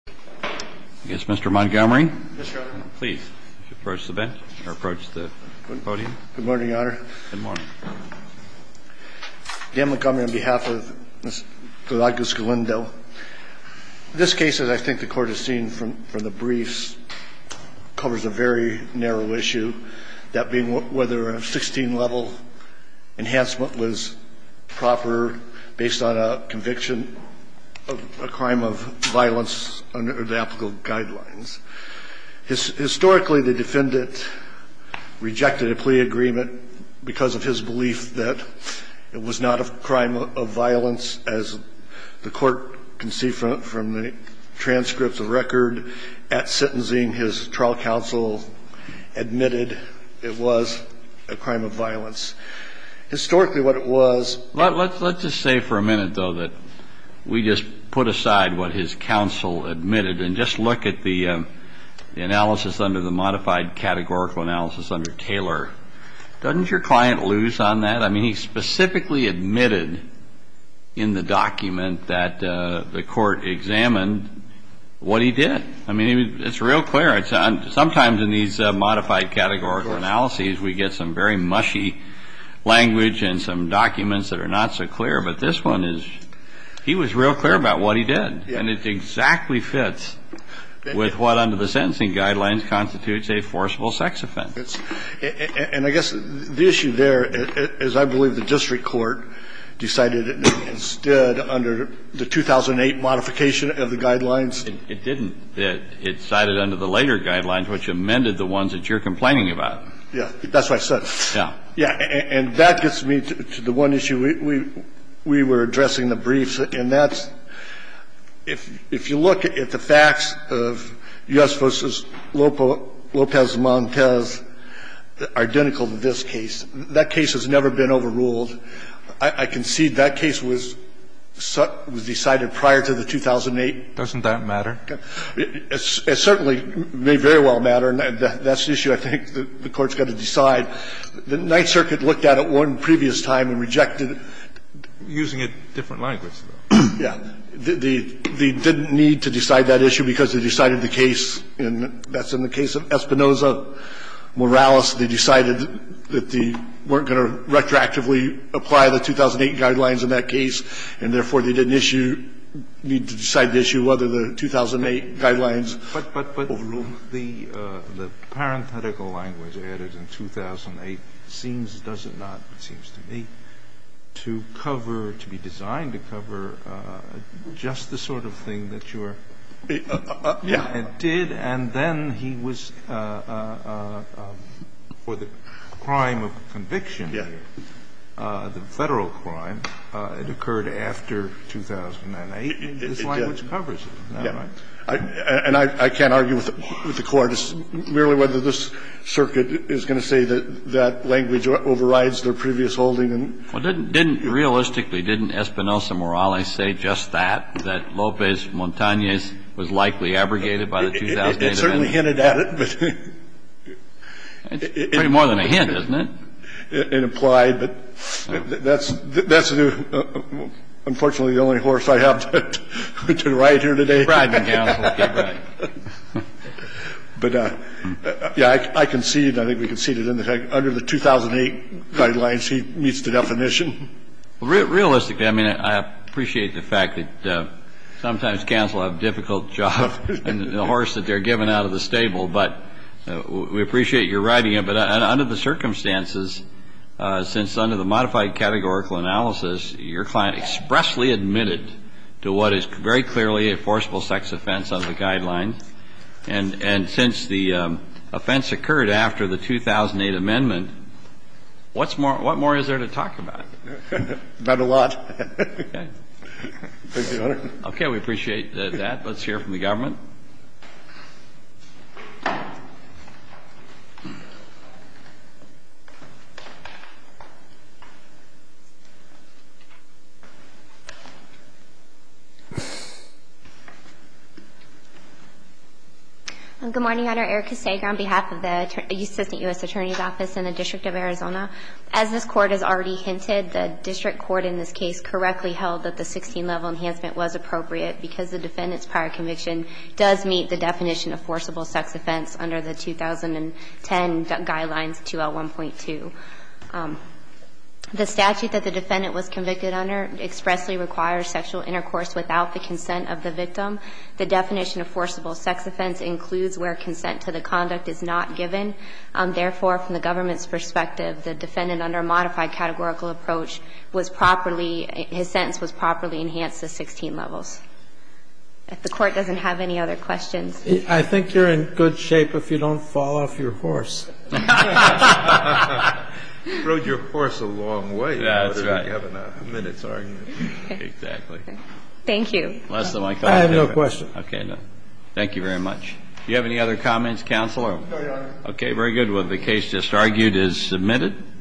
Yes, Mr. Montgomery, please approach the bench or approach the podium. Good morning, Your Honor. Good morning. Dan Montgomery on behalf of Mr. Gallegos-Galindo. This case, as I think the court has seen from the briefs, covers a very narrow issue, that being whether a 16-level enhancement was proper based on a conviction of a crime of violence under the applicable guidelines. Historically, the defendant rejected a plea agreement because of his belief that it was not a crime of violence. As the court can see from the transcripts of record at sentencing, his trial counsel admitted it was a crime of violence. Historically what it was Let's just say for a minute, though, that we just put aside what his counsel admitted and just look at the analysis under the modified categorical analysis under Taylor. Doesn't your client lose on that? I mean, he specifically admitted in the document that the court examined what he did. I mean, it's real clear. Sometimes in these modified categorical analyses we get some very mushy language and some documents that are not so clear, but this one is he was real clear about what he did, and it exactly fits with what under the sentencing guidelines constitutes a forcible sex offense. And I guess the issue there is I believe the district court decided instead under the 2008 modification of the guidelines. It didn't. It cited under the later guidelines, which amended the ones that you're referring to. I mean, to the one issue we were addressing, the briefs, and that's if you look at the facts of U.S. v. Lopez Montez, identical to this case, that case has never been overruled. I concede that case was decided prior to the 2008. Doesn't that matter? It certainly may very well matter, and that's the issue I think the Court's got to decide. The Ninth Circuit looked at it one previous time and rejected it. Using a different language, though. Yeah. They didn't need to decide that issue because they decided the case, and that's in the case of Espinoza-Morales, they decided that they weren't going to retroactively apply the 2008 guidelines in that case, and therefore they didn't issue need to decide the issue whether the 2008 guidelines were overruled. The parenthetical language added in 2008 seems, does it not, it seems to me, to cover or to be designed to cover just the sort of thing that your client did, and then he was, for the crime of conviction here, the Federal crime, it occurred after 2008. It does. I mean, this language covers it. Isn't that right? And I can't argue with the Court merely whether this circuit is going to say that that language overrides their previous holding. Well, didn't, realistically, didn't Espinoza-Morales say just that, that Lopez-Montanez was likely abrogated by the 2008 amendment? It certainly hinted at it. It's pretty more than a hint, isn't it? It implied, but that's, unfortunately, the only horse I have to ride here today. You're riding, counsel. Get ready. But, yeah, I conceded, I think we conceded, in effect, under the 2008 guidelines he meets the definition. Realistically, I mean, I appreciate the fact that sometimes counsel have difficult jobs and the horse that they're giving out of the stable, but we appreciate your writing it. But under the circumstances, since under the modified categorical analysis, your client expressly admitted to what is very clearly a forcible sex offense under the guidelines, and since the offense occurred after the 2008 amendment, what more is there to talk about? Not a lot. Okay. Thank you, Your Honor. Okay. We appreciate that. Let's hear from the government. Good morning, Your Honor. Erika Sager on behalf of the Assistant U.S. Attorney's Office in the District of Arizona. As this Court has already hinted, the district court in this case correctly held that the 16-level enhancement was appropriate because the defendant's definition of forcible sex offense under the 2010 guidelines, 2L1.2. The statute that the defendant was convicted under expressly requires sexual intercourse without the consent of the victim. The definition of forcible sex offense includes where consent to the conduct is not given. Therefore, from the government's perspective, the defendant under modified categorical approach was properly, his sentence was properly enhanced to 16 levels. If the Court doesn't have any other questions. I think you're in good shape if you don't fall off your horse. You rode your horse a long way. That's right. You haven't had a minute's argument. Exactly. Thank you. I have no question. Okay. Thank you very much. Do you have any other comments, Counselor? No, Your Honor. Okay. Very good. Well, the case just argued is submitted.